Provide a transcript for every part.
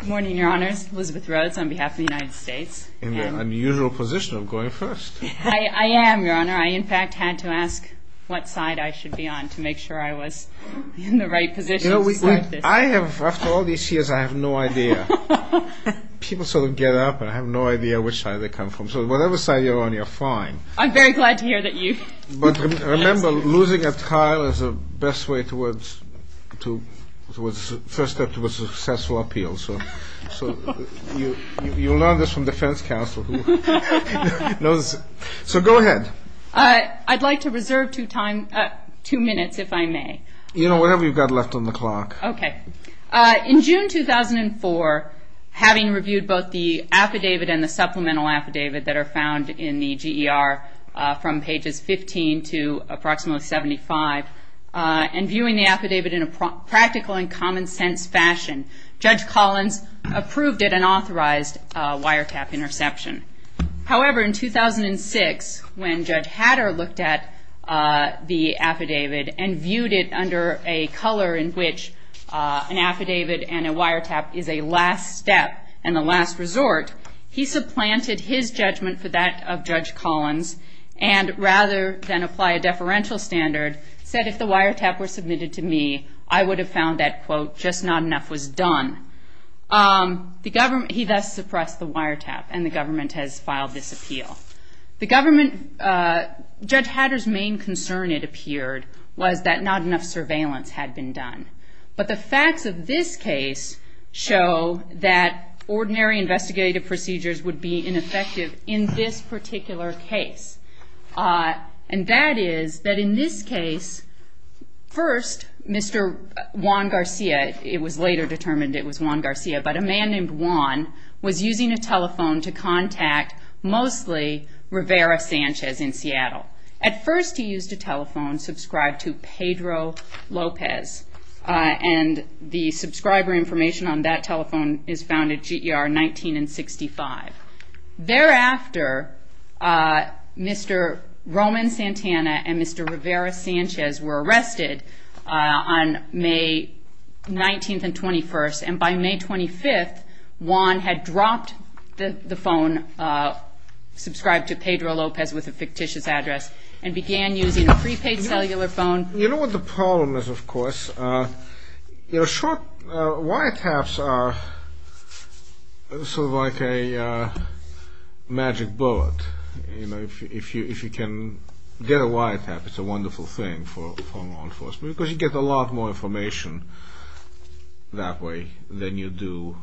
Good morning, your honors. Elizabeth Rhodes on behalf of the United States. In the unusual position of going first. I am, your honor. I, in fact, had to ask what side I should be on to make sure I was in the right position. You know, I have, after all these years, I have no idea. People sort of get up and I have no idea which side they come from. So whatever side you're on, you're fine. I'm very glad to hear that you've... But remember, losing a trial is the best way towards first step to a successful appeal. So you'll learn this from defense counsel who knows. So go ahead. I'd like to reserve two minutes, if I may. You know, whatever you've got left on the clock. Okay. In June 2004, having reviewed both the affidavit and the supplemental affidavit that are found in the GER from pages 15 to approximately 75, and viewing the affidavit in a practical and common sense fashion, Judge Collins approved it and authorized wiretap interception. However, in 2006, when Judge Hatter looked at the affidavit and viewed it under a color in which an affidavit and a wiretap is a last step and the last resort, he supplanted his judgment for that of Judge Collins, and rather than apply a deferential standard, said if the wiretap were submitted to me, I would have found that, quote, just not enough was done. He thus suppressed the wiretap, and the government has filed this appeal. Judge Hatter's main concern, it appeared, was that not enough surveillance had been done. But the facts of this case show that ordinary investigative procedures would be ineffective in this particular case. And that is that in this case, first, Mr. Juan Garcia, it was later determined it was Juan Garcia, but a man named Juan was using a telephone to contact mostly Rivera Sanchez in Seattle. At first, he used a telephone subscribed to Pedro Lopez, and the subscriber information on that telephone is found at GER 19 and 65. Thereafter, Mr. Roman Santana and Mr. Rivera Sanchez were arrested on May 19th and 21st, and by May 25th, Juan had dropped the phone subscribed to Pedro Lopez with a fictitious address and began using a prepaid cellular phone. You know what the problem is, of course? You know, short wiretaps are sort of like a magic bullet. You know, if you can get a wiretap, it's a wonderful thing for law enforcement because you get a lot more information that way than you do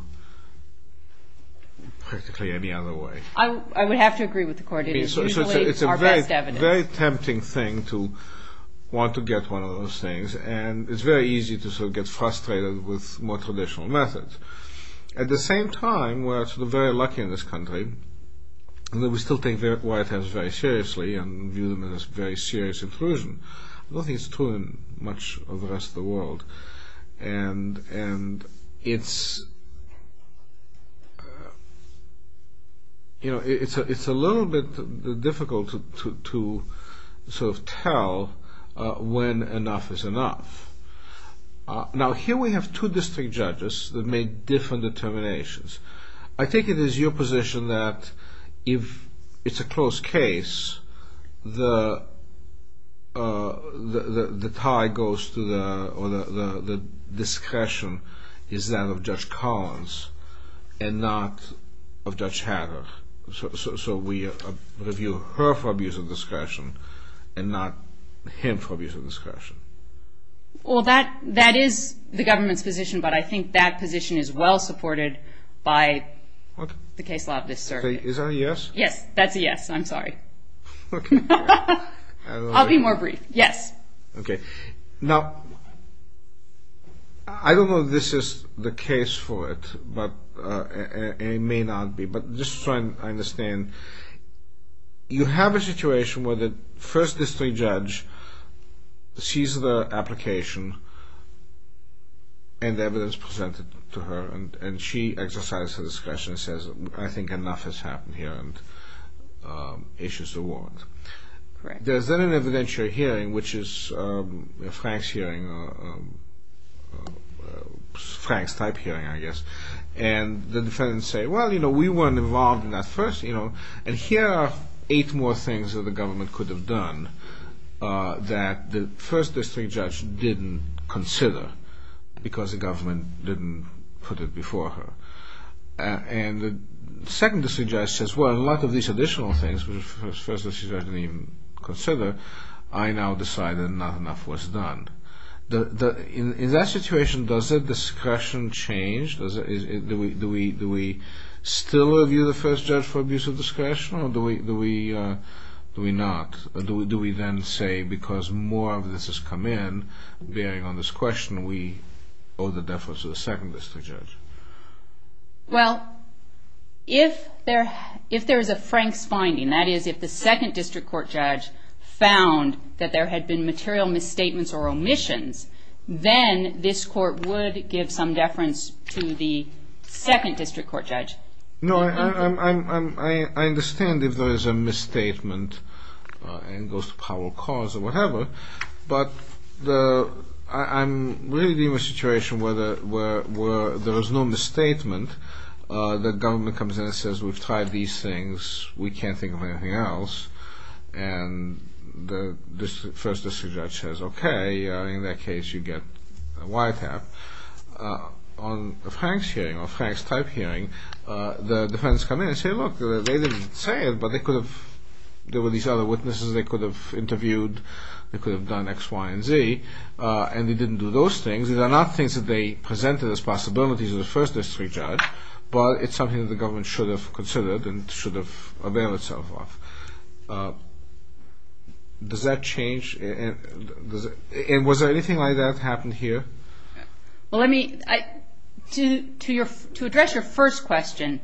practically any other way. I would have to agree with the court. It is usually our best evidence. It's a very tempting thing to want to get one of those things, and it's very easy to sort of get frustrated with more traditional methods. At the same time, we're sort of very lucky in this country that we still take wiretaps very seriously and view them as very serious intrusion. I don't think it's true in much of the rest of the world, and it's a little bit difficult to sort of tell when enough is enough. Now, here we have two district judges that made different determinations. I think it is your position that if it's a close case, the tie goes to the discretion is that of Judge Collins and not of Judge Hanna. So we review her for abuse of discretion and not him for abuse of discretion. Well, that is the government's position, but I think that position is well supported by the case law of this circuit. Is that a yes? Yes, that's a yes. I'm sorry. I'll be more brief. Yes. Okay. Now, I don't know if this is the case for it, and it may not be, but just so I understand, you have a situation where the first district judge sees the application and the evidence presented to her, and she exercises her discretion and says, I think enough has happened here, and issues are warranted. There's then an evidentiary hearing, which is Frank's hearing, Frank's type hearing, I guess, and the defendants say, well, you know, we weren't involved in that first, you know, and here are eight more things that the government could have done that the first district judge didn't consider because the government didn't put it before her. And the second district judge says, well, a lot of these additional things, which the first district judge didn't even consider, I now decide that not enough was done. In that situation, does the discretion change? Do we still review the first judge for abuse of discretion, or do we not? Do we then say, because more of this has come in, bearing on this question, we owe the deference to the second district judge? Well, if there is a Frank's finding, that is, if the second district court judge found that there had been material misstatements or omissions, then this court would give some deference to the second district court judge. No, I understand if there is a misstatement and goes to power of cause or whatever, but I'm really in a situation where there is no misstatement, the government comes in and says, we've tried these things, we can't think of anything else, and the first district judge says, okay, in that case you get a YTAP. On a Frank's hearing, a Frank's type hearing, the defendants come in and say, look, they didn't say it, but they could have, there were these other witnesses they could have interviewed, they could have done X, Y, and Z, and they didn't do those things. These are not things that they presented as possibilities to the first district judge, but it's something that the government should have considered and should have availed itself of. Does that change? And was there anything like that happen here? Well, let me, to address your first question,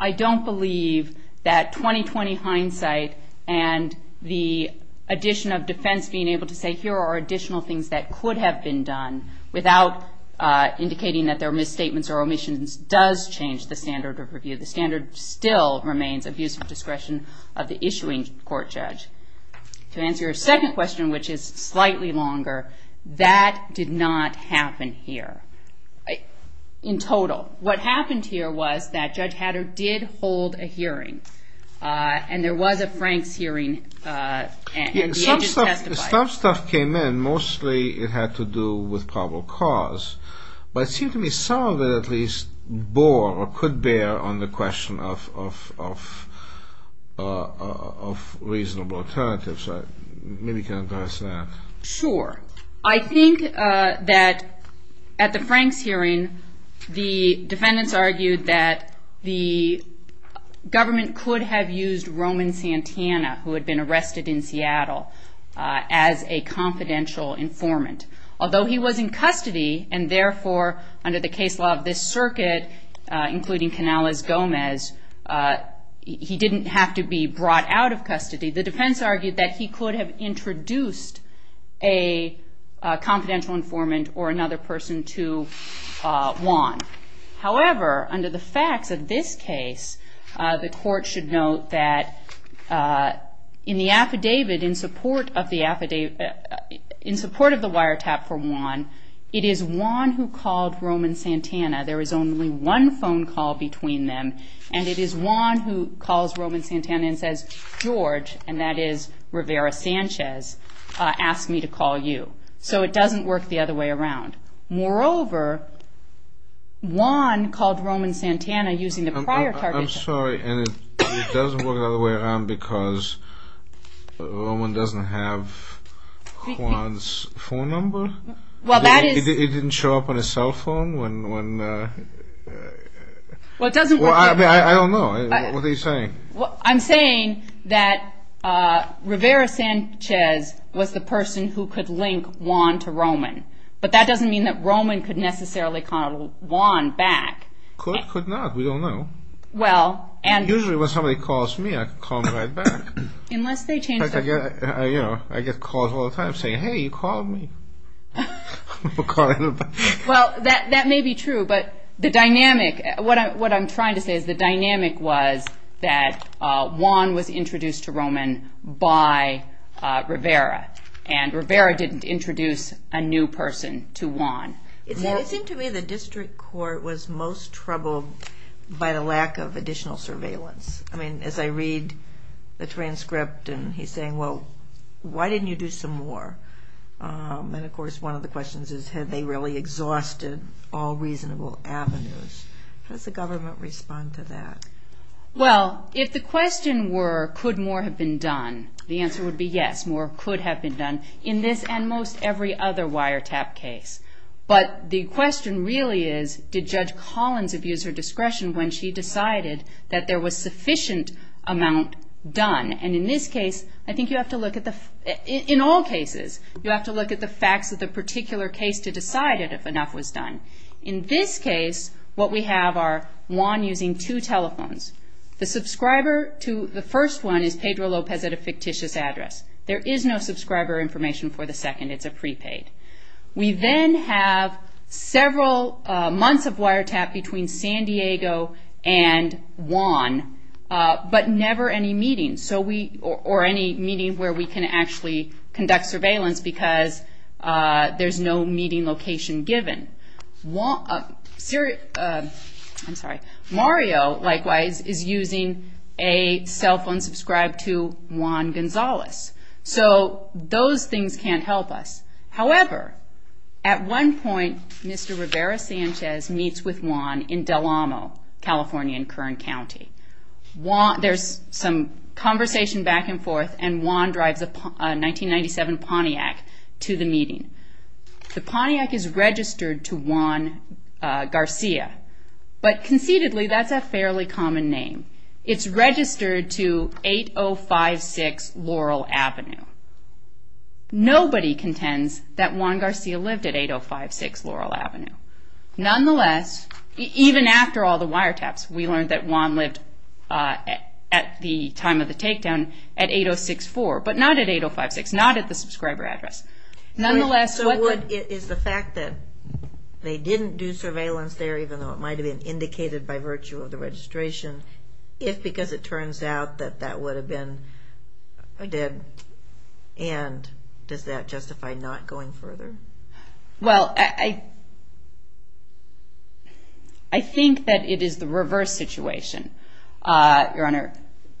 I don't believe that 20-20 hindsight and the addition of defense being able to say, here are additional things that could have been done without indicating that there are misstatements or omissions does change the standard of review. The standard still remains abuse of discretion of the issuing court judge. To answer your second question, which is slightly longer, that did not happen here. In total, what happened here was that Judge Hatter did hold a hearing, and there was a Frank's hearing, and the agent testified. The stuff came in, mostly it had to do with probable cause, but it seemed to me some of it at least bore or could bear on the question of reasonable alternatives. Maybe you can address that. Sure. I think that at the Frank's hearing, the defendants argued that the government could have used Roman Santana, who had been arrested in Seattle, as a confidential informant. Although he was in custody, and therefore under the case law of this circuit, including Canales-Gomez, he didn't have to be brought out of custody. The defense argued that he could have introduced a confidential informant or another person to Juan. However, under the facts of this case, the court should note that in the affidavit in support of the wiretap for Juan, it is Juan who called Roman Santana. There is only one phone call between them, and it is Juan who calls Roman Santana and says, George, and that is Rivera-Sanchez, asked me to call you. So it doesn't work the other way around. Moreover, Juan called Roman Santana using the prior target. I'm sorry, and it doesn't work the other way around because Roman doesn't have Juan's phone number? It didn't show up on his cell phone? Well, it doesn't work that way. I don't know. What are you saying? Well, I'm saying that Rivera-Sanchez was the person who could link Juan to Roman, but that doesn't mean that Roman could necessarily call Juan back. Could, could not. We don't know. Well, and... Usually when somebody calls me, I can call them right back. Unless they change their... I get calls all the time saying, hey, you called me. Well, that may be true, but the dynamic, what I'm trying to say is the dynamic was that Juan was introduced to Roman by Rivera, and Rivera didn't introduce a new person to Juan. It seemed to me the district court was most troubled by the lack of additional surveillance. I mean, as I read the transcript, and he's saying, well, why didn't you do some more? And, of course, one of the questions is had they really exhausted all reasonable avenues. How does the government respond to that? Well, if the question were could more have been done, the answer would be yes. More could have been done in this and most every other wiretap case. But the question really is did Judge Collins abuse her discretion when she decided that there was sufficient amount done? And in this case, I think you have to look at the... In all cases, you have to look at the facts of the particular case to decide if enough was done. In this case, what we have are Juan using two telephones. The subscriber to the first one is Pedro Lopez at a fictitious address. There is no subscriber information for the second. It's a prepaid. We then have several months of wiretap between San Diego and Juan, but never any meeting, or any meeting where we can actually conduct surveillance because there's no meeting location given. Mario, likewise, is using a cell phone subscribed to Juan Gonzalez. So those things can't help us. However, at one point, Mr. Rivera-Sanchez meets with Juan in Del Amo, California, in Kern County. There's some conversation back and forth, and Juan drives a 1997 Pontiac to the meeting. The Pontiac is registered to Juan Garcia, but conceitedly, that's a fairly common name. It's registered to 8056 Laurel Avenue. Nobody contends that Juan Garcia lived at 8056 Laurel Avenue. Nonetheless, even after all the wiretaps, we learned that Juan lived at the time of the takedown at 8064, but not at 8056, not at the subscriber address. Nonetheless, what the- So is the fact that they didn't do surveillance there, even though it might have been indicated by virtue of the registration, if because it turns out that that would have been dead, and does that justify not going further? Well, I think that it is the reverse situation, Your Honor.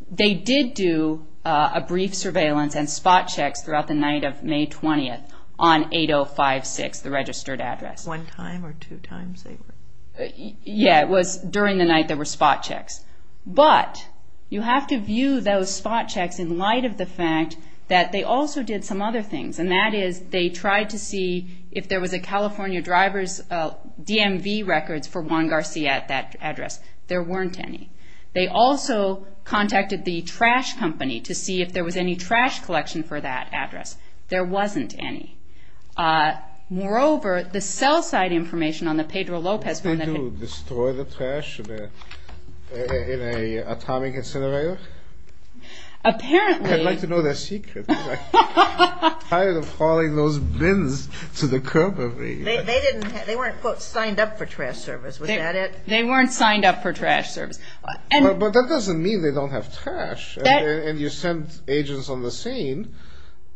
They did do a brief surveillance and spot checks throughout the night of May 20th on 8056, the registered address. One time or two times they were? Yeah, it was during the night there were spot checks. But you have to view those spot checks in light of the fact that they also did some other things, and that is they tried to see if there was a California driver's DMV records for Juan Garcia at that address. There weren't any. They also contacted the trash company to see if there was any trash collection for that address. There wasn't any. Moreover, the cell site information on the Pedro Lopez phone- Did they destroy the trash in an atomic incinerator? Apparently- I'd like to know their secret. I'm tired of hauling those bins to the curb of me. They weren't, quote, signed up for trash service, was that it? They weren't signed up for trash service. But that doesn't mean they don't have trash. And you sent agents on the scene.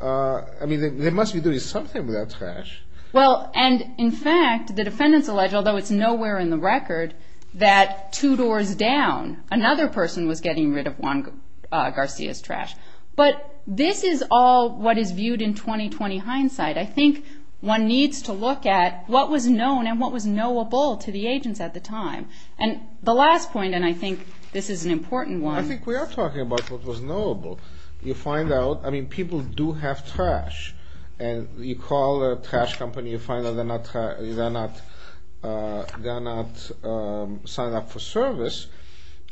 I mean, they must be doing something with that trash. Well, and in fact, the defendants allege, although it's nowhere in the record, that two doors down, another person was getting rid of Juan Garcia's trash. But this is all what is viewed in 2020 hindsight. I think one needs to look at what was known and what was knowable to the agents at the time. And the last point, and I think this is an important one- I think we are talking about what was knowable. You find out, I mean, people do have trash. And you call a trash company, you find that they're not signed up for service.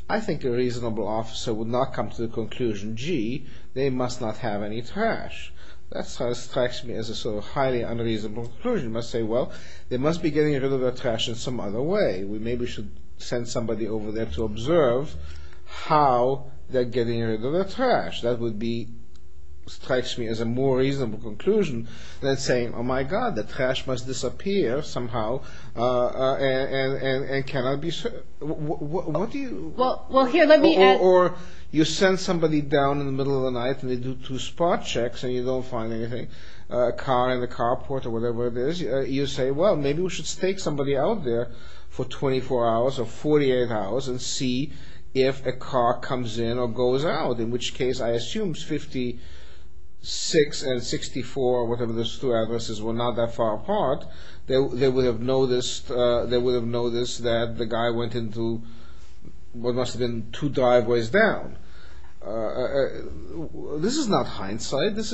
I think a reasonable officer would not come to the conclusion, gee, they must not have any trash. That strikes me as a sort of highly unreasonable conclusion. You must say, well, they must be getting rid of their trash in some other way. We maybe should send somebody over there to observe how they're getting rid of their trash. That would be-strikes me as a more reasonable conclusion than saying, oh, my God, the trash must disappear somehow and cannot be-what do you- Well, here, let me add- Or you send somebody down in the middle of the night and they do two spot checks and you don't find anything, a car in the carport or whatever it is. You say, well, maybe we should stake somebody out there for 24 hours or 48 hours and see if a car comes in or goes out. In which case, I assume 56 and 64, whatever those two addresses, were not that far apart. They would have noticed that the guy went into what must have been two driveways down. This is not hindsight. This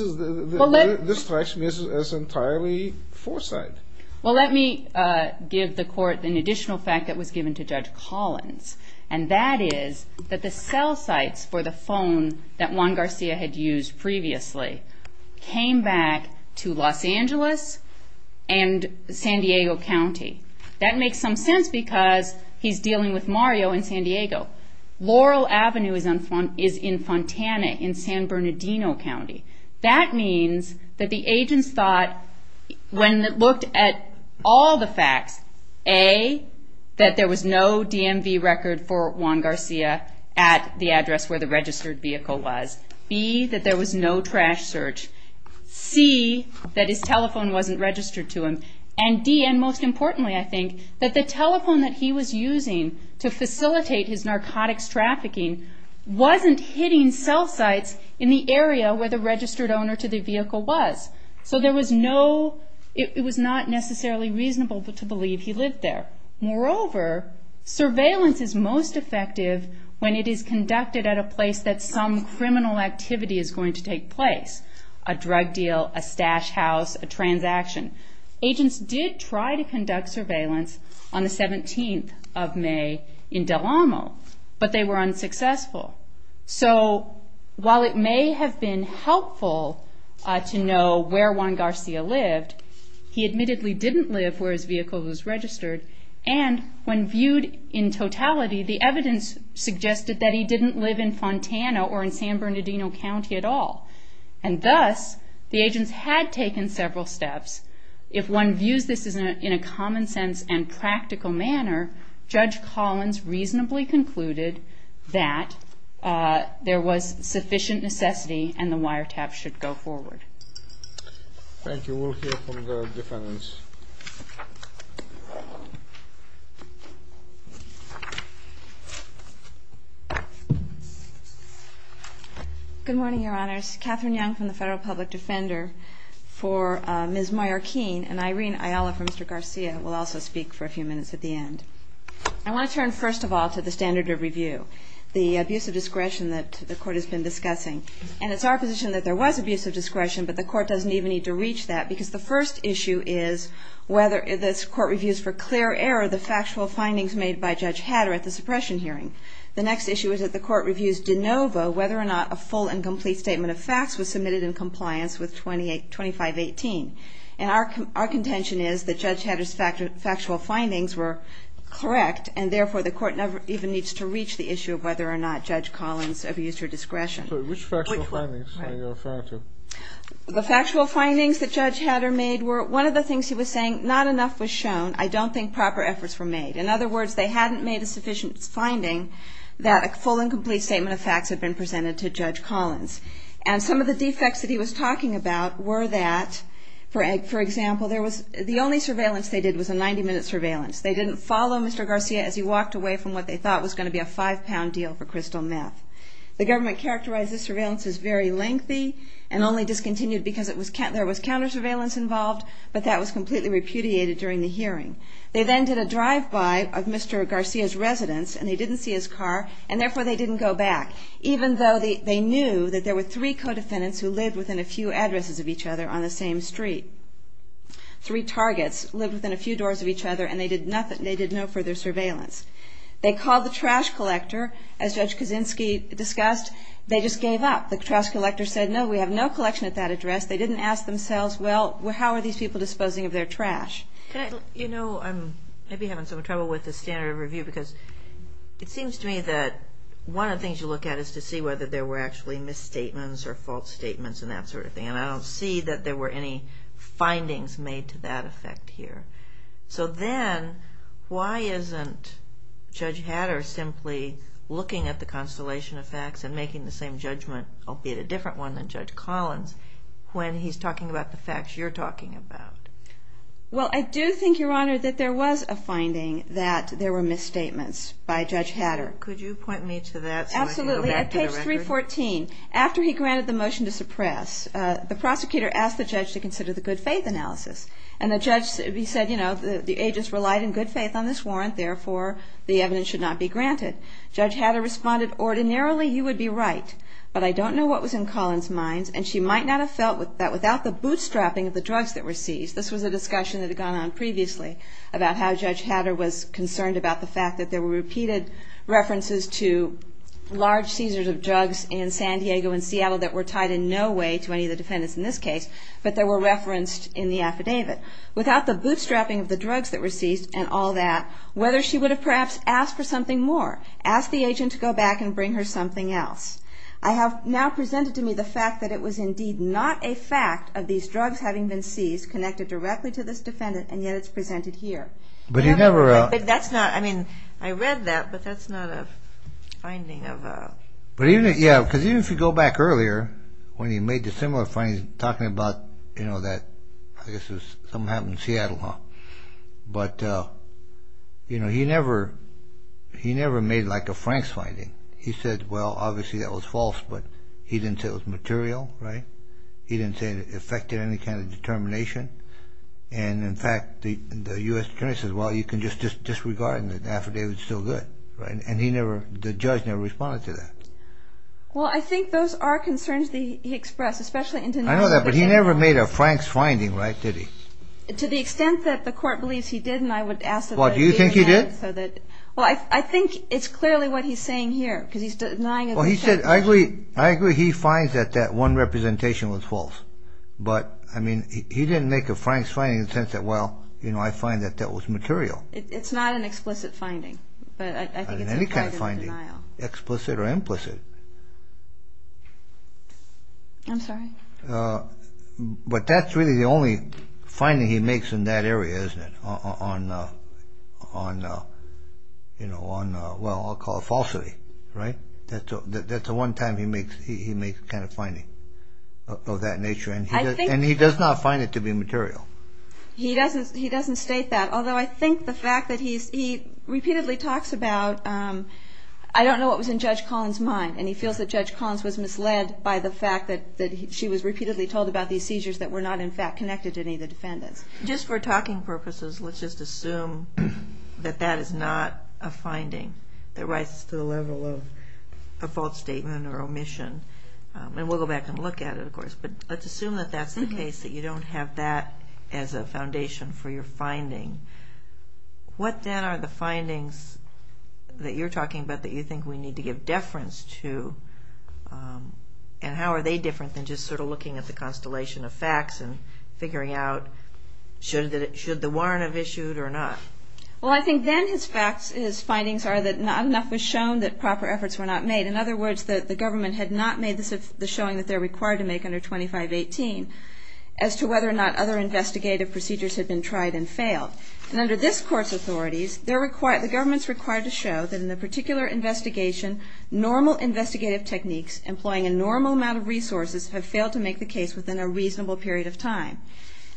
strikes me as entirely foresight. Well, let me give the court an additional fact that was given to Judge Collins. And that is that the cell sites for the phone that Juan Garcia had used previously came back to Los Angeles and San Diego County. That makes some sense because he's dealing with Mario in San Diego. Laurel Avenue is in Fontana in San Bernardino County. That means that the agents thought, when they looked at all the facts, A, that there was no DMV record for Juan Garcia at the address where the registered vehicle was, B, that there was no trash search, C, that his telephone wasn't registered to him, and D, and most importantly, I think, that the telephone that he was using to facilitate his narcotics trafficking wasn't hitting cell sites in the area where the registered owner to the vehicle was. So it was not necessarily reasonable to believe he lived there. Moreover, surveillance is most effective when it is conducted at a place that some criminal activity is going to take place. A drug deal, a stash house, a transaction. Agents did try to conduct surveillance on the 17th of May in Del Amo, but they were unsuccessful. So while it may have been helpful to know where Juan Garcia lived, he admittedly didn't live where his vehicle was registered, and when viewed in totality, the evidence suggested that he didn't live in Fontana or in San Bernardino County at all. And thus, the agents had taken several steps. If one views this in a common sense and practical manner, Judge Collins reasonably concluded that there was sufficient necessity and the wiretap should go forward. Thank you. We'll hear from the defendants. Good morning, Your Honors. Catherine Young from the Federal Public Defender for Ms. Mayorkin, and Irene Ayala from Mr. Garcia will also speak for a few minutes at the end. I want to turn first of all to the standard of review, the abuse of discretion that the Court has been discussing. And it's our position that there was abuse of discretion, but the Court doesn't even need to reach that, because the first issue is whether this Court reviews for clear error the factual findings made by Judge Hatter at the suppression hearing. The next issue is that the Court reviews de novo whether or not a full and complete statement of facts was submitted in compliance with 2518. And our contention is that Judge Hatter's factual findings were correct, and therefore the Court never even needs to reach the issue of whether or not Judge Collins abused her discretion. Which factual findings are you referring to? The factual findings that Judge Hatter made were, one of the things he was saying, not enough was shown. I don't think proper efforts were made. In other words, they hadn't made a sufficient finding that a full and complete statement of facts had been presented to Judge Collins. And some of the defects that he was talking about were that, for example, the only surveillance they did was a 90-minute surveillance. They didn't follow Mr. Garcia as he walked away from what they thought was going to be a five-pound deal for crystal meth. The government characterized this surveillance as very lengthy and only discontinued because there was counter surveillance involved, but that was completely repudiated during the hearing. They then did a drive-by of Mr. Garcia's residence, and they didn't see his car, and therefore they didn't go back, even though they knew that there were three co-defendants who lived within a few addresses of each other on the same street. Three targets lived within a few doors of each other, and they did no further surveillance. They called the trash collector. As Judge Kaczynski discussed, they just gave up. The trash collector said, no, we have no collection at that address. They didn't ask themselves, well, how are these people disposing of their trash? You know, I'm maybe having some trouble with the standard of review because it seems to me that one of the things you look at is to see whether there were actually misstatements or false statements and that sort of thing, and I don't see that there were any findings made to that effect here. So then why isn't Judge Hatter simply looking at the constellation of facts and making the same judgment, albeit a different one, than Judge Collins when he's talking about the facts you're talking about? Well, I do think, Your Honor, that there was a finding that there were misstatements by Judge Hatter. Could you point me to that so I can go back to the record? Absolutely. At page 314, after he granted the motion to suppress, the prosecutor asked the judge to consider the good faith analysis, and the judge said, you know, the agents relied in good faith on this warrant, therefore the evidence should not be granted. Judge Hatter responded, ordinarily you would be right, but I don't know what was in Collins' mind, and she might not have felt that without the bootstrapping of the drugs that were seized. This was a discussion that had gone on previously about how Judge Hatter was concerned about the fact that there were repeated references to large seizures of drugs in San Diego and Seattle that were tied in no way to any of the defendants in this case, but they were referenced in the affidavit. Without the bootstrapping of the drugs that were seized and all that, whether she would have perhaps asked for something more, asked the agent to go back and bring her something else. I have now presented to me the fact that it was indeed not a fact of these drugs having been seized connected directly to this defendant, and yet it's presented here. But he never... But that's not, I mean, I read that, but that's not a finding of... But even, yeah, because even if you go back earlier, when he made the similar finding, talking about, you know, that I guess it was something that happened in Seattle, but, you know, he never made like a Frank's finding. He said, well, obviously that was false, but he didn't say it was material, right? He didn't say it affected any kind of determination, and, in fact, the U.S. attorney says, well, you can just disregard the affidavit. It's still good, right? And he never, the judge never responded to that. Well, I think those are concerns that he expressed, especially in... I know that, but he never made a Frank's finding, right, did he? To the extent that the court believes he did, and I would ask that they... Well, do you think he did? Well, I think it's clearly what he's saying here, because he's denying... Well, he said, I agree he finds that that one representation was false, but, I mean, he didn't make a Frank's finding in the sense that, well, you know, I find that that was material. It's not an explicit finding, but I think it's implied in the denial. It's not any kind of finding, explicit or implicit. I'm sorry? But that's really the only finding he makes in that area, isn't it? On, you know, on, well, I'll call it falsity, right? That's the one time he makes a kind of finding of that nature, and he does not find it to be material. He doesn't state that, although I think the fact that he repeatedly talks about, I don't know what was in Judge Collins' mind, and he feels that Judge Collins was misled by the fact that she was repeatedly told about these seizures that were not, in fact, connected to any of the defendants. Just for talking purposes, let's just assume that that is not a finding that rises to the level of a false statement or omission, and we'll go back and look at it, of course. But let's assume that that's the case, that you don't have that as a foundation for your finding. What then are the findings that you're talking about that you think we need to give deference to, and how are they different than just sort of looking at the constellation of facts and figuring out should the warrant have issued or not? Well, I think then his findings are that not enough was shown that proper efforts were not made. In other words, the government had not made the showing that they're required to make under 2518 as to whether or not other investigative procedures had been tried and failed. And under this Court's authorities, the government's required to show that in a particular investigation, normal investigative techniques employing a normal amount of resources have failed to make the case within a reasonable period of time.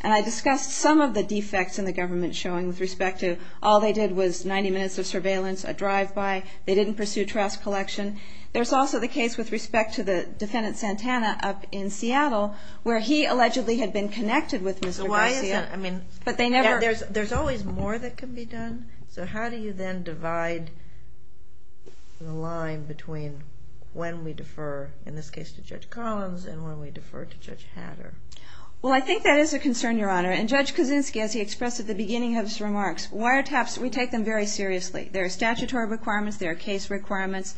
And I discussed some of the defects in the government showing with respect to all they did was 90 minutes of surveillance, a drive-by, they didn't pursue trash collection. There's also the case with respect to the defendant Santana up in Seattle where he allegedly had been connected with Mr. Garcia. But there's always more that can be done. So how do you then divide the line between when we defer, in this case to Judge Collins, and when we defer to Judge Hatter? Well, I think that is a concern, Your Honor. And Judge Kaczynski, as he expressed at the beginning of his remarks, wiretaps, we take them very seriously. There are statutory requirements. There are case requirements.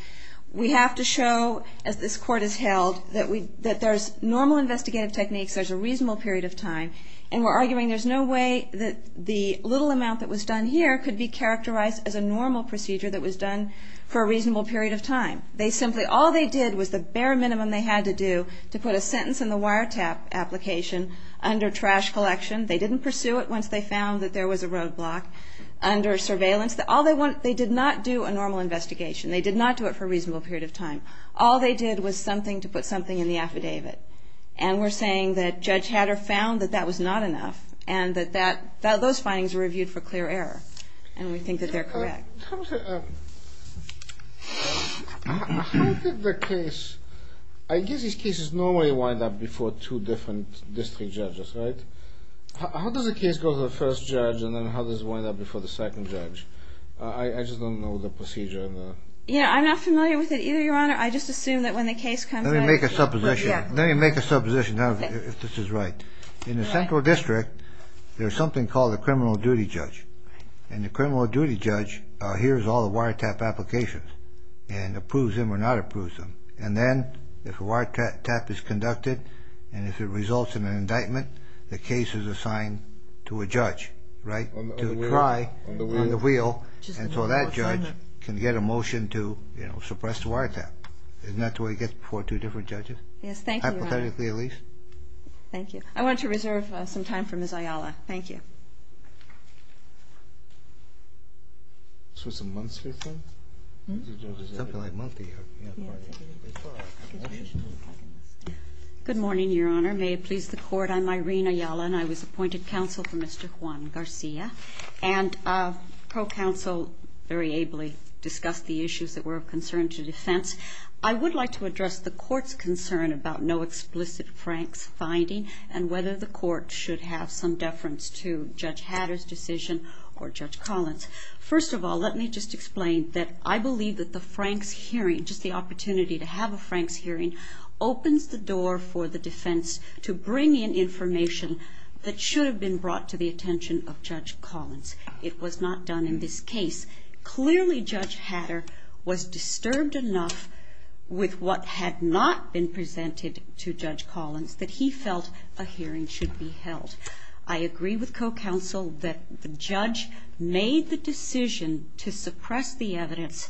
We have to show, as this Court has held, that there's normal investigative techniques, there's a reasonable period of time, and we're arguing there's no way that the little amount that was done here could be characterized as a normal procedure that was done for a reasonable period of time. All they did was the bare minimum they had to do to put a sentence in the wiretap application under trash collection. They didn't pursue it once they found that there was a roadblock. Under surveillance, they did not do a normal investigation. They did not do it for a reasonable period of time. All they did was something to put something in the affidavit. And we're saying that Judge Hatter found that that was not enough and that those findings were reviewed for clear error, and we think that they're correct. How did the case... I guess these cases normally wind up before two different district judges, right? How does a case go to the first judge, and then how does it wind up before the second judge? I just don't know the procedure. Yeah, I'm not familiar with it either, Your Honor. I just assume that when the case comes back... Let me make a supposition. Let me make a supposition if this is right. In the central district, there's something called a criminal duty judge, and the criminal duty judge hears all the wiretap applications and approves them or not approves them. And then if a wiretap is conducted and if it results in an indictment, the case is assigned to a judge, right, to try on the wheel, and so that judge can get a motion to suppress the wiretap. Isn't that the way it gets before two different judges? Yes, thank you, Your Honor. Hypothetically, at least. Thank you. I want to reserve some time for Ms. Ayala. Thank you. Good morning, Your Honor. May it please the Court, I'm Irene Ayala, and I was appointed counsel for Mr. Juan Garcia, and co-counsel very ably discussed the issues that were of concern to defense. I would like to address the Court's concern about no explicit Frank's finding and whether the Court should have some deference to Judge Hatter's decision or Judge Collins. First of all, let me just explain that I believe that the Frank's hearing, just the opportunity to have a Frank's hearing, opens the door for the defense to bring in information that should have been brought to the attention of Judge Collins. It was not done in this case. Clearly, Judge Hatter was disturbed enough with what had not been presented to Judge Collins that he felt a hearing should be held. I agree with co-counsel that the judge made the decision to suppress the evidence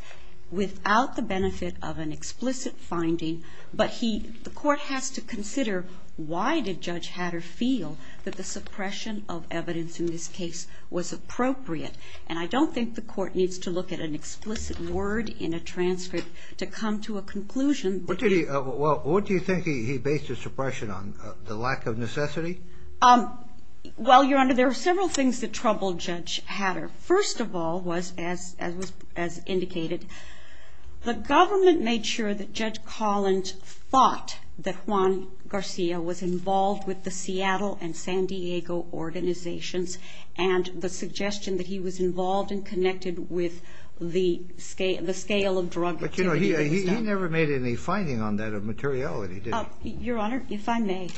without the benefit of an explicit finding, but the Court has to consider why did Judge Hatter feel that the suppression of evidence in this case was appropriate. And I don't think the Court needs to look at an explicit word in a transcript to come to a conclusion. What do you think he based his suppression on, the lack of necessity? Well, Your Honor, there are several things that troubled Judge Hatter. First of all, as indicated, the government made sure that Judge Collins thought that Juan Garcia was involved with the Seattle and San Diego organizations and the suggestion that he was involved and connected with the scale of drug activity. But he never made any finding on that of materiality, did he? Your Honor, if I may,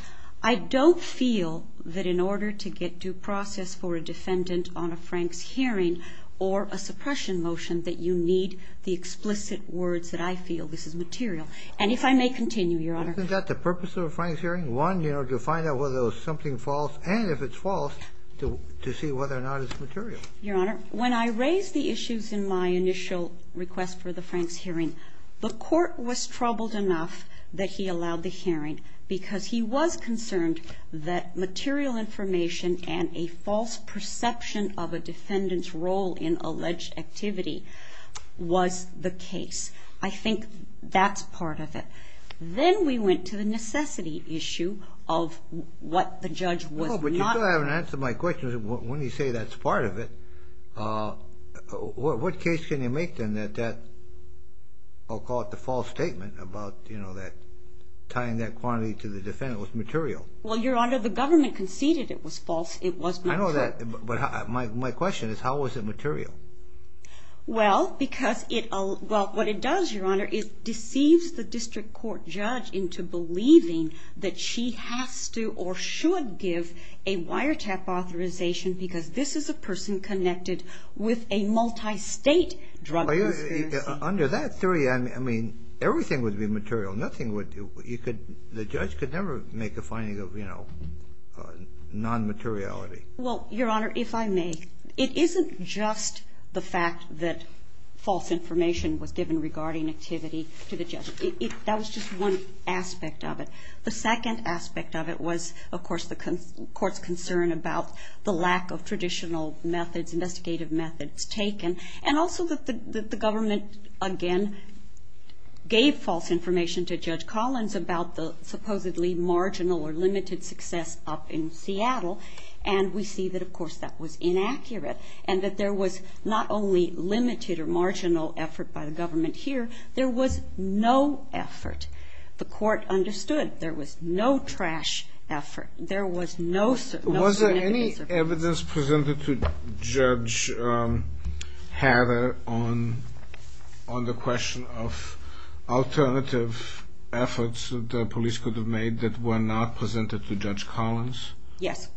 I don't feel that in order to get due process for a defendant on a Franks hearing or a suppression motion that you need the explicit words that I feel this is material. And if I may continue, Your Honor. Isn't that the purpose of a Franks hearing? One, to find out whether it was something false, and if it's false, to see whether or not it's material. Your Honor, when I raised the issues in my initial request for the Franks hearing, the court was troubled enough that he allowed the hearing because he was concerned that material information and a false perception of a defendant's role in alleged activity was the case. I think that's part of it. Then we went to the necessity issue of what the judge was not... What case can you make, then, that I'll call it the false statement about tying that quantity to the defendant was material? Well, Your Honor, the government conceded it was false. It was material. I know that, but my question is how was it material? Well, because what it does, Your Honor, it deceives the district court judge into believing that she has to or should give a wiretap authorization because this is a person connected with a multistate drug conspiracy. Under that theory, I mean, everything would be material. Nothing would... The judge could never make a finding of, you know, nonmateriality. Well, Your Honor, if I may, it isn't just the fact that false information was given regarding activity to the judge. That was just one aspect of it. The second aspect of it was, of course, the court's concern about the lack of traditional methods, investigative methods taken, and also that the government, again, gave false information to Judge Collins about the supposedly marginal or limited success up in Seattle, and we see that, of course, that was inaccurate and that there was not only limited or marginal effort by the government here. There was no effort. The court understood there was no trash effort. Was there any evidence presented to Judge Hatter on the question of alternative efforts that the police could have made that were not presented to Judge Collins? Yes.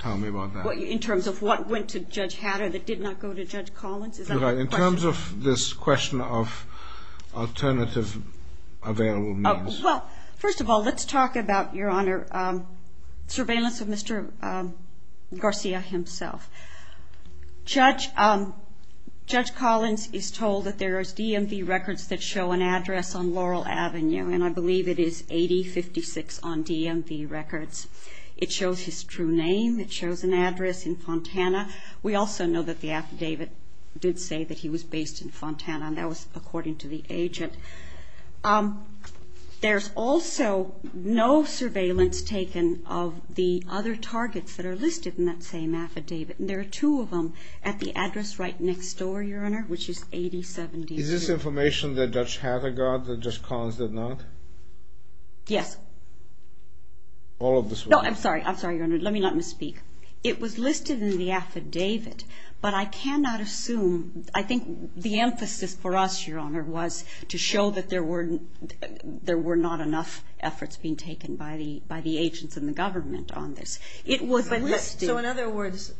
Tell me about that. In terms of what went to Judge Hatter that did not go to Judge Collins? In terms of this question of alternative available means. Well, first of all, let's talk about, Your Honor, surveillance of Mr. Garcia himself. Judge Collins is told that there is DMV records that show an address on Laurel Avenue, and I believe it is 8056 on DMV records. It shows his true name. It shows an address in Fontana. We also know that the affidavit did say that he was based in Fontana, and that was according to the agent. There's also no surveillance taken of the other targets that are listed in that same affidavit, and there are two of them at the address right next door, Your Honor, which is 8072. Is this information that Judge Hatter got that Judge Collins did not? Yes. All of this was? No, I'm sorry. I'm sorry, Your Honor. Let me not misspeak. It was listed in the affidavit, but I cannot assume. I think the emphasis for us, Your Honor, was to show that there were not enough efforts being taken by the agents and the government on this. So in other words,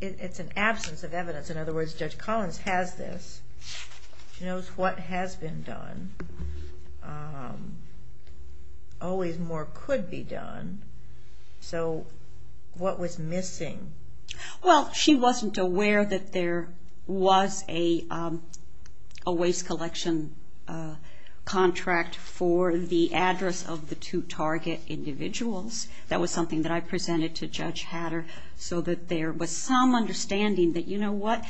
it's an absence of evidence. In other words, Judge Collins has this. She knows what has been done. Always more could be done. So what was missing? Well, she wasn't aware that there was a waste collection contract for the address of the two target individuals. That was something that I presented to Judge Hatter so that there was some understanding that, you know what,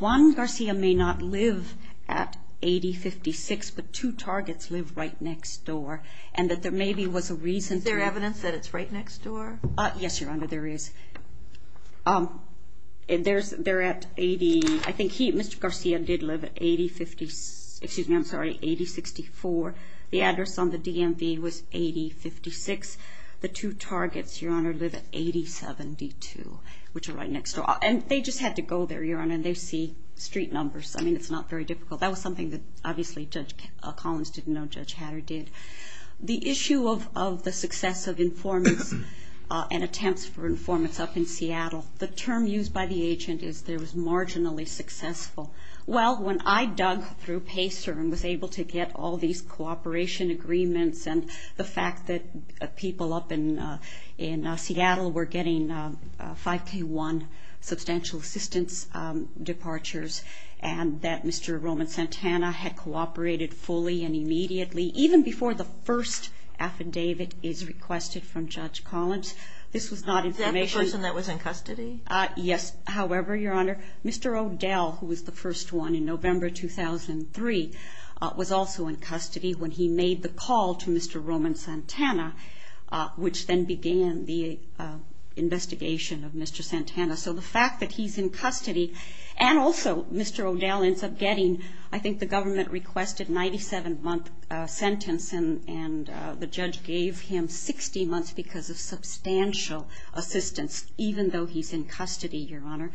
Juan Garcia may not live at 8056, but two targets live right next door, and that there maybe was a reason. Is there evidence that it's right next door? Yes, Your Honor, there is. They're at 80. I think he, Mr. Garcia, did live at 8054. The address on the DMV was 8056. The two targets, Your Honor, live at 8072, which are right next door. And they just had to go there, Your Honor, and they see street numbers. I mean, it's not very difficult. That was something that, obviously, Judge Collins didn't know Judge Hatter did. The issue of the success of informants and attempts for informants up in Seattle, the term used by the agent is there was marginally successful. Well, when I dug through PACER and was able to get all these cooperation agreements and the fact that people up in Seattle were getting 5K1 substantial assistance departures and that Mr. Roman Santana had cooperated fully and immediately, even before the first affidavit is requested from Judge Collins, this was not information. Is that the person that was in custody? Yes. However, Your Honor, Mr. O'Dell, who was the first one in November 2003, was also in custody when he made the call to Mr. Roman Santana, which then began the investigation of Mr. Santana. So the fact that he's in custody and also Mr. O'Dell ends up getting, I think, the government-requested 97-month sentence, and the judge gave him 60 months because of substantial assistance, even though he's in custody, Your Honor.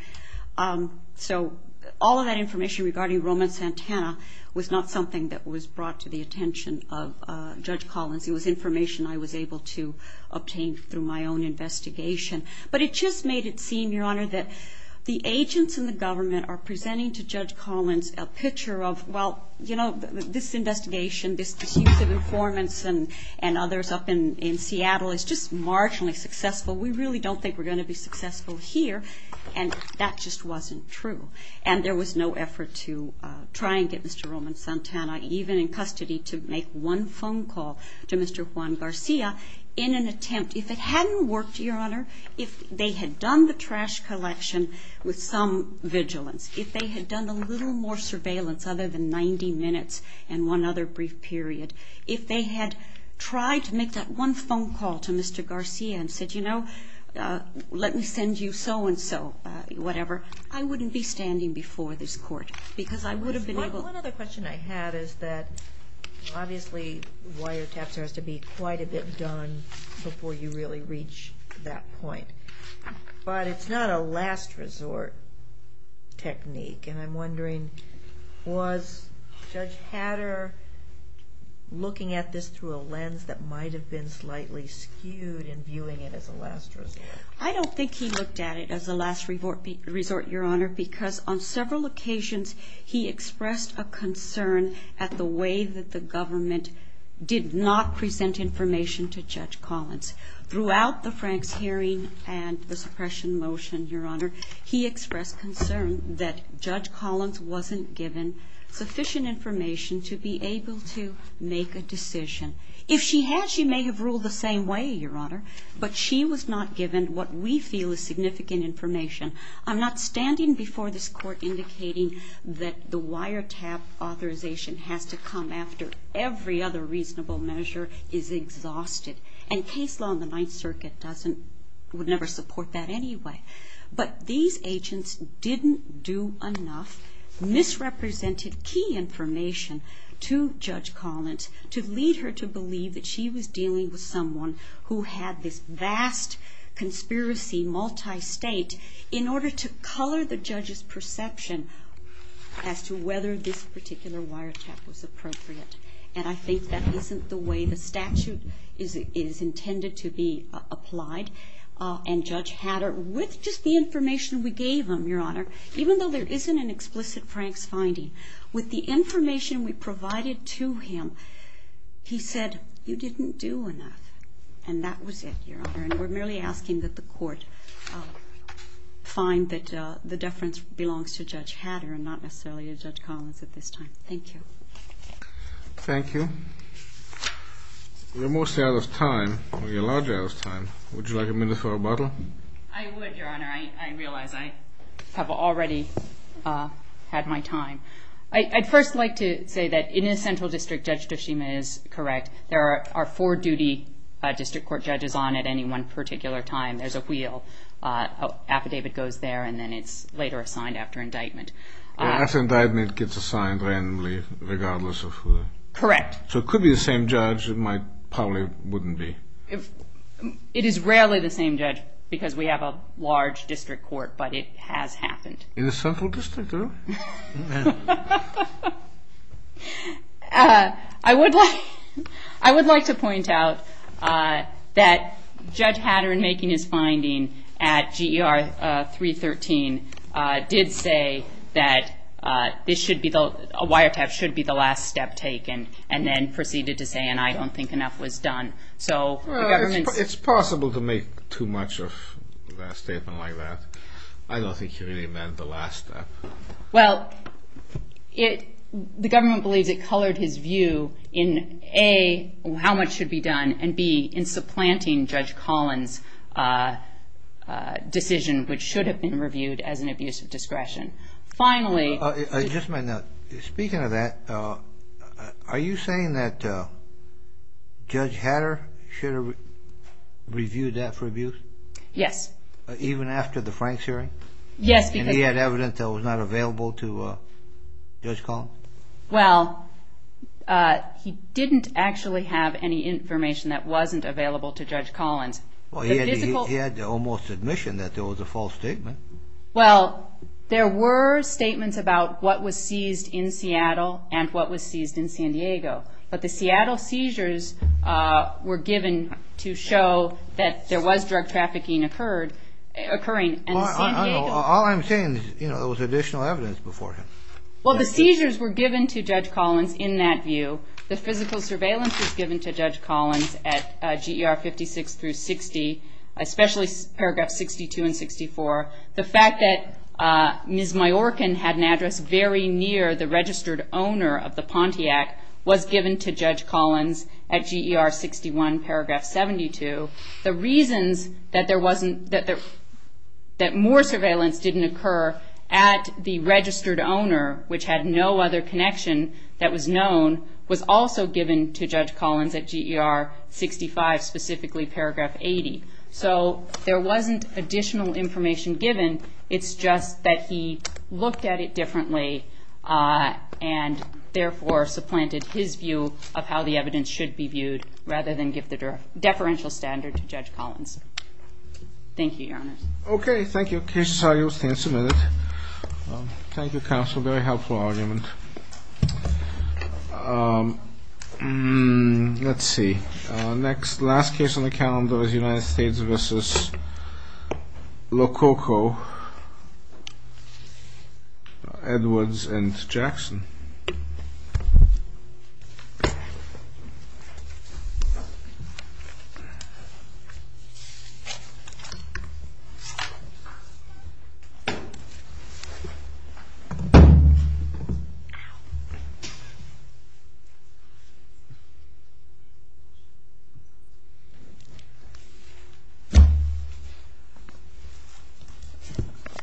So all of that information regarding Roman Santana was not something that was brought to the attention of Judge Collins. It was information I was able to obtain through my own investigation. But it just made it seem, Your Honor, that the agents in the government are presenting to Judge Collins a picture of, well, you know, this investigation, this use of informants and others up in Seattle is just marginally successful. We really don't think we're going to be successful here. And that just wasn't true. And there was no effort to try and get Mr. Roman Santana, even in custody, to make one phone call to Mr. Juan Garcia in an attempt. If it hadn't worked, Your Honor, if they had done the trash collection with some vigilance, if they had done a little more surveillance other than 90 minutes and one other brief period, if they had tried to make that one phone call to Mr. Garcia and said, you know, let me send you so-and-so, whatever, I wouldn't be standing before this court because I would have been able to. One other question I had is that, obviously, wiretapping has to be quite a bit done before you really reach that point. But it's not a last resort technique. And I'm wondering, was Judge Hatter looking at this through a lens that might have been slightly skewed in viewing it as a last resort? I don't think he looked at it as a last resort, Your Honor, because on several occasions he expressed a concern at the way that the government did not present information to Judge Collins. Throughout the Franks hearing and the suppression motion, Your Honor, he expressed concern that Judge Collins wasn't given sufficient information to be able to make a decision. If she had, she may have ruled the same way, Your Honor, but she was not given what we feel is significant information. I'm not standing before this court indicating that the wiretap authorization has to come after every other reasonable measure is exhausted. And case law in the Ninth Circuit doesn't, would never support that anyway. But these agents didn't do enough, misrepresented key information to Judge Collins to lead her to believe that she was dealing with someone who had this vast conspiracy, multi-state, in order to color the judge's perception as to whether this particular wiretap was appropriate. And I think that isn't the way the statute is intended to be applied. And Judge Hatter, with just the information we gave him, Your Honor, even though there isn't an explicit Franks finding, with the information we provided to him, he said, you didn't do enough. And that was it, Your Honor. And we're merely asking that the court find that the deference belongs to Judge Hatter and not necessarily to Judge Collins at this time. Thank you. Thank you. We're mostly out of time. We're largely out of time. Would you like a minute for rebuttal? I would, Your Honor. I realize I have already had my time. I'd first like to say that in a central district, Judge Toshima is correct. There are four duty district court judges on at any one particular time. There's a wheel. Affidavit goes there, and then it's later assigned after indictment. After indictment, it gets assigned randomly regardless of who. Correct. So it could be the same judge. It probably wouldn't be. It is rarely the same judge because we have a large district court, but it has happened. In the central district, though? I would like to point out that Judge Hatter, in making his finding at GER 313, did say that a wiretap should be the last step taken and then proceeded to say, and I don't think enough was done. It's possible to make too much of a statement like that. I don't think he really meant the last step. Well, the government believes it colored his view in, A, how much should be done, and, B, in supplanting Judge Collins' decision, which should have been reviewed as an abuse of discretion. Just a minute. Speaking of that, are you saying that Judge Hatter should have reviewed that for abuse? Yes. Even after the Franks hearing? Yes, because And he had evidence that was not available to Judge Collins? Well, he didn't actually have any information that wasn't available to Judge Collins. He had almost admission that there was a false statement. Well, there were statements about what was seized in Seattle and what was seized in San Diego, but the Seattle seizures were given to show that there was drug trafficking occurring. All I'm saying is there was additional evidence before him. Well, the seizures were given to Judge Collins in that view. The physical surveillance was given to Judge Collins at GER 56 through 60, especially Paragraph 62 and 64. The fact that Ms. Majorcan had an address very near the registered owner of the Pontiac was given to Judge Collins at GER 61, Paragraph 72. The reasons that more surveillance didn't occur at the registered owner, which had no other connection that was known, was also given to Judge Collins at GER 65, specifically Paragraph 80. So there wasn't additional information given. It's just that he looked at it differently and therefore supplanted his view of how the evidence should be viewed rather than give the deferential standard to Judge Collins. Thank you, Your Honor. Okay. Thank you. Counsel, you'll stand for a minute. Thank you, Counsel. That's a very helpful argument. Let's see. Next, last case on the calendar is United States v. Lococo, Edwards v. Jackson. Ow.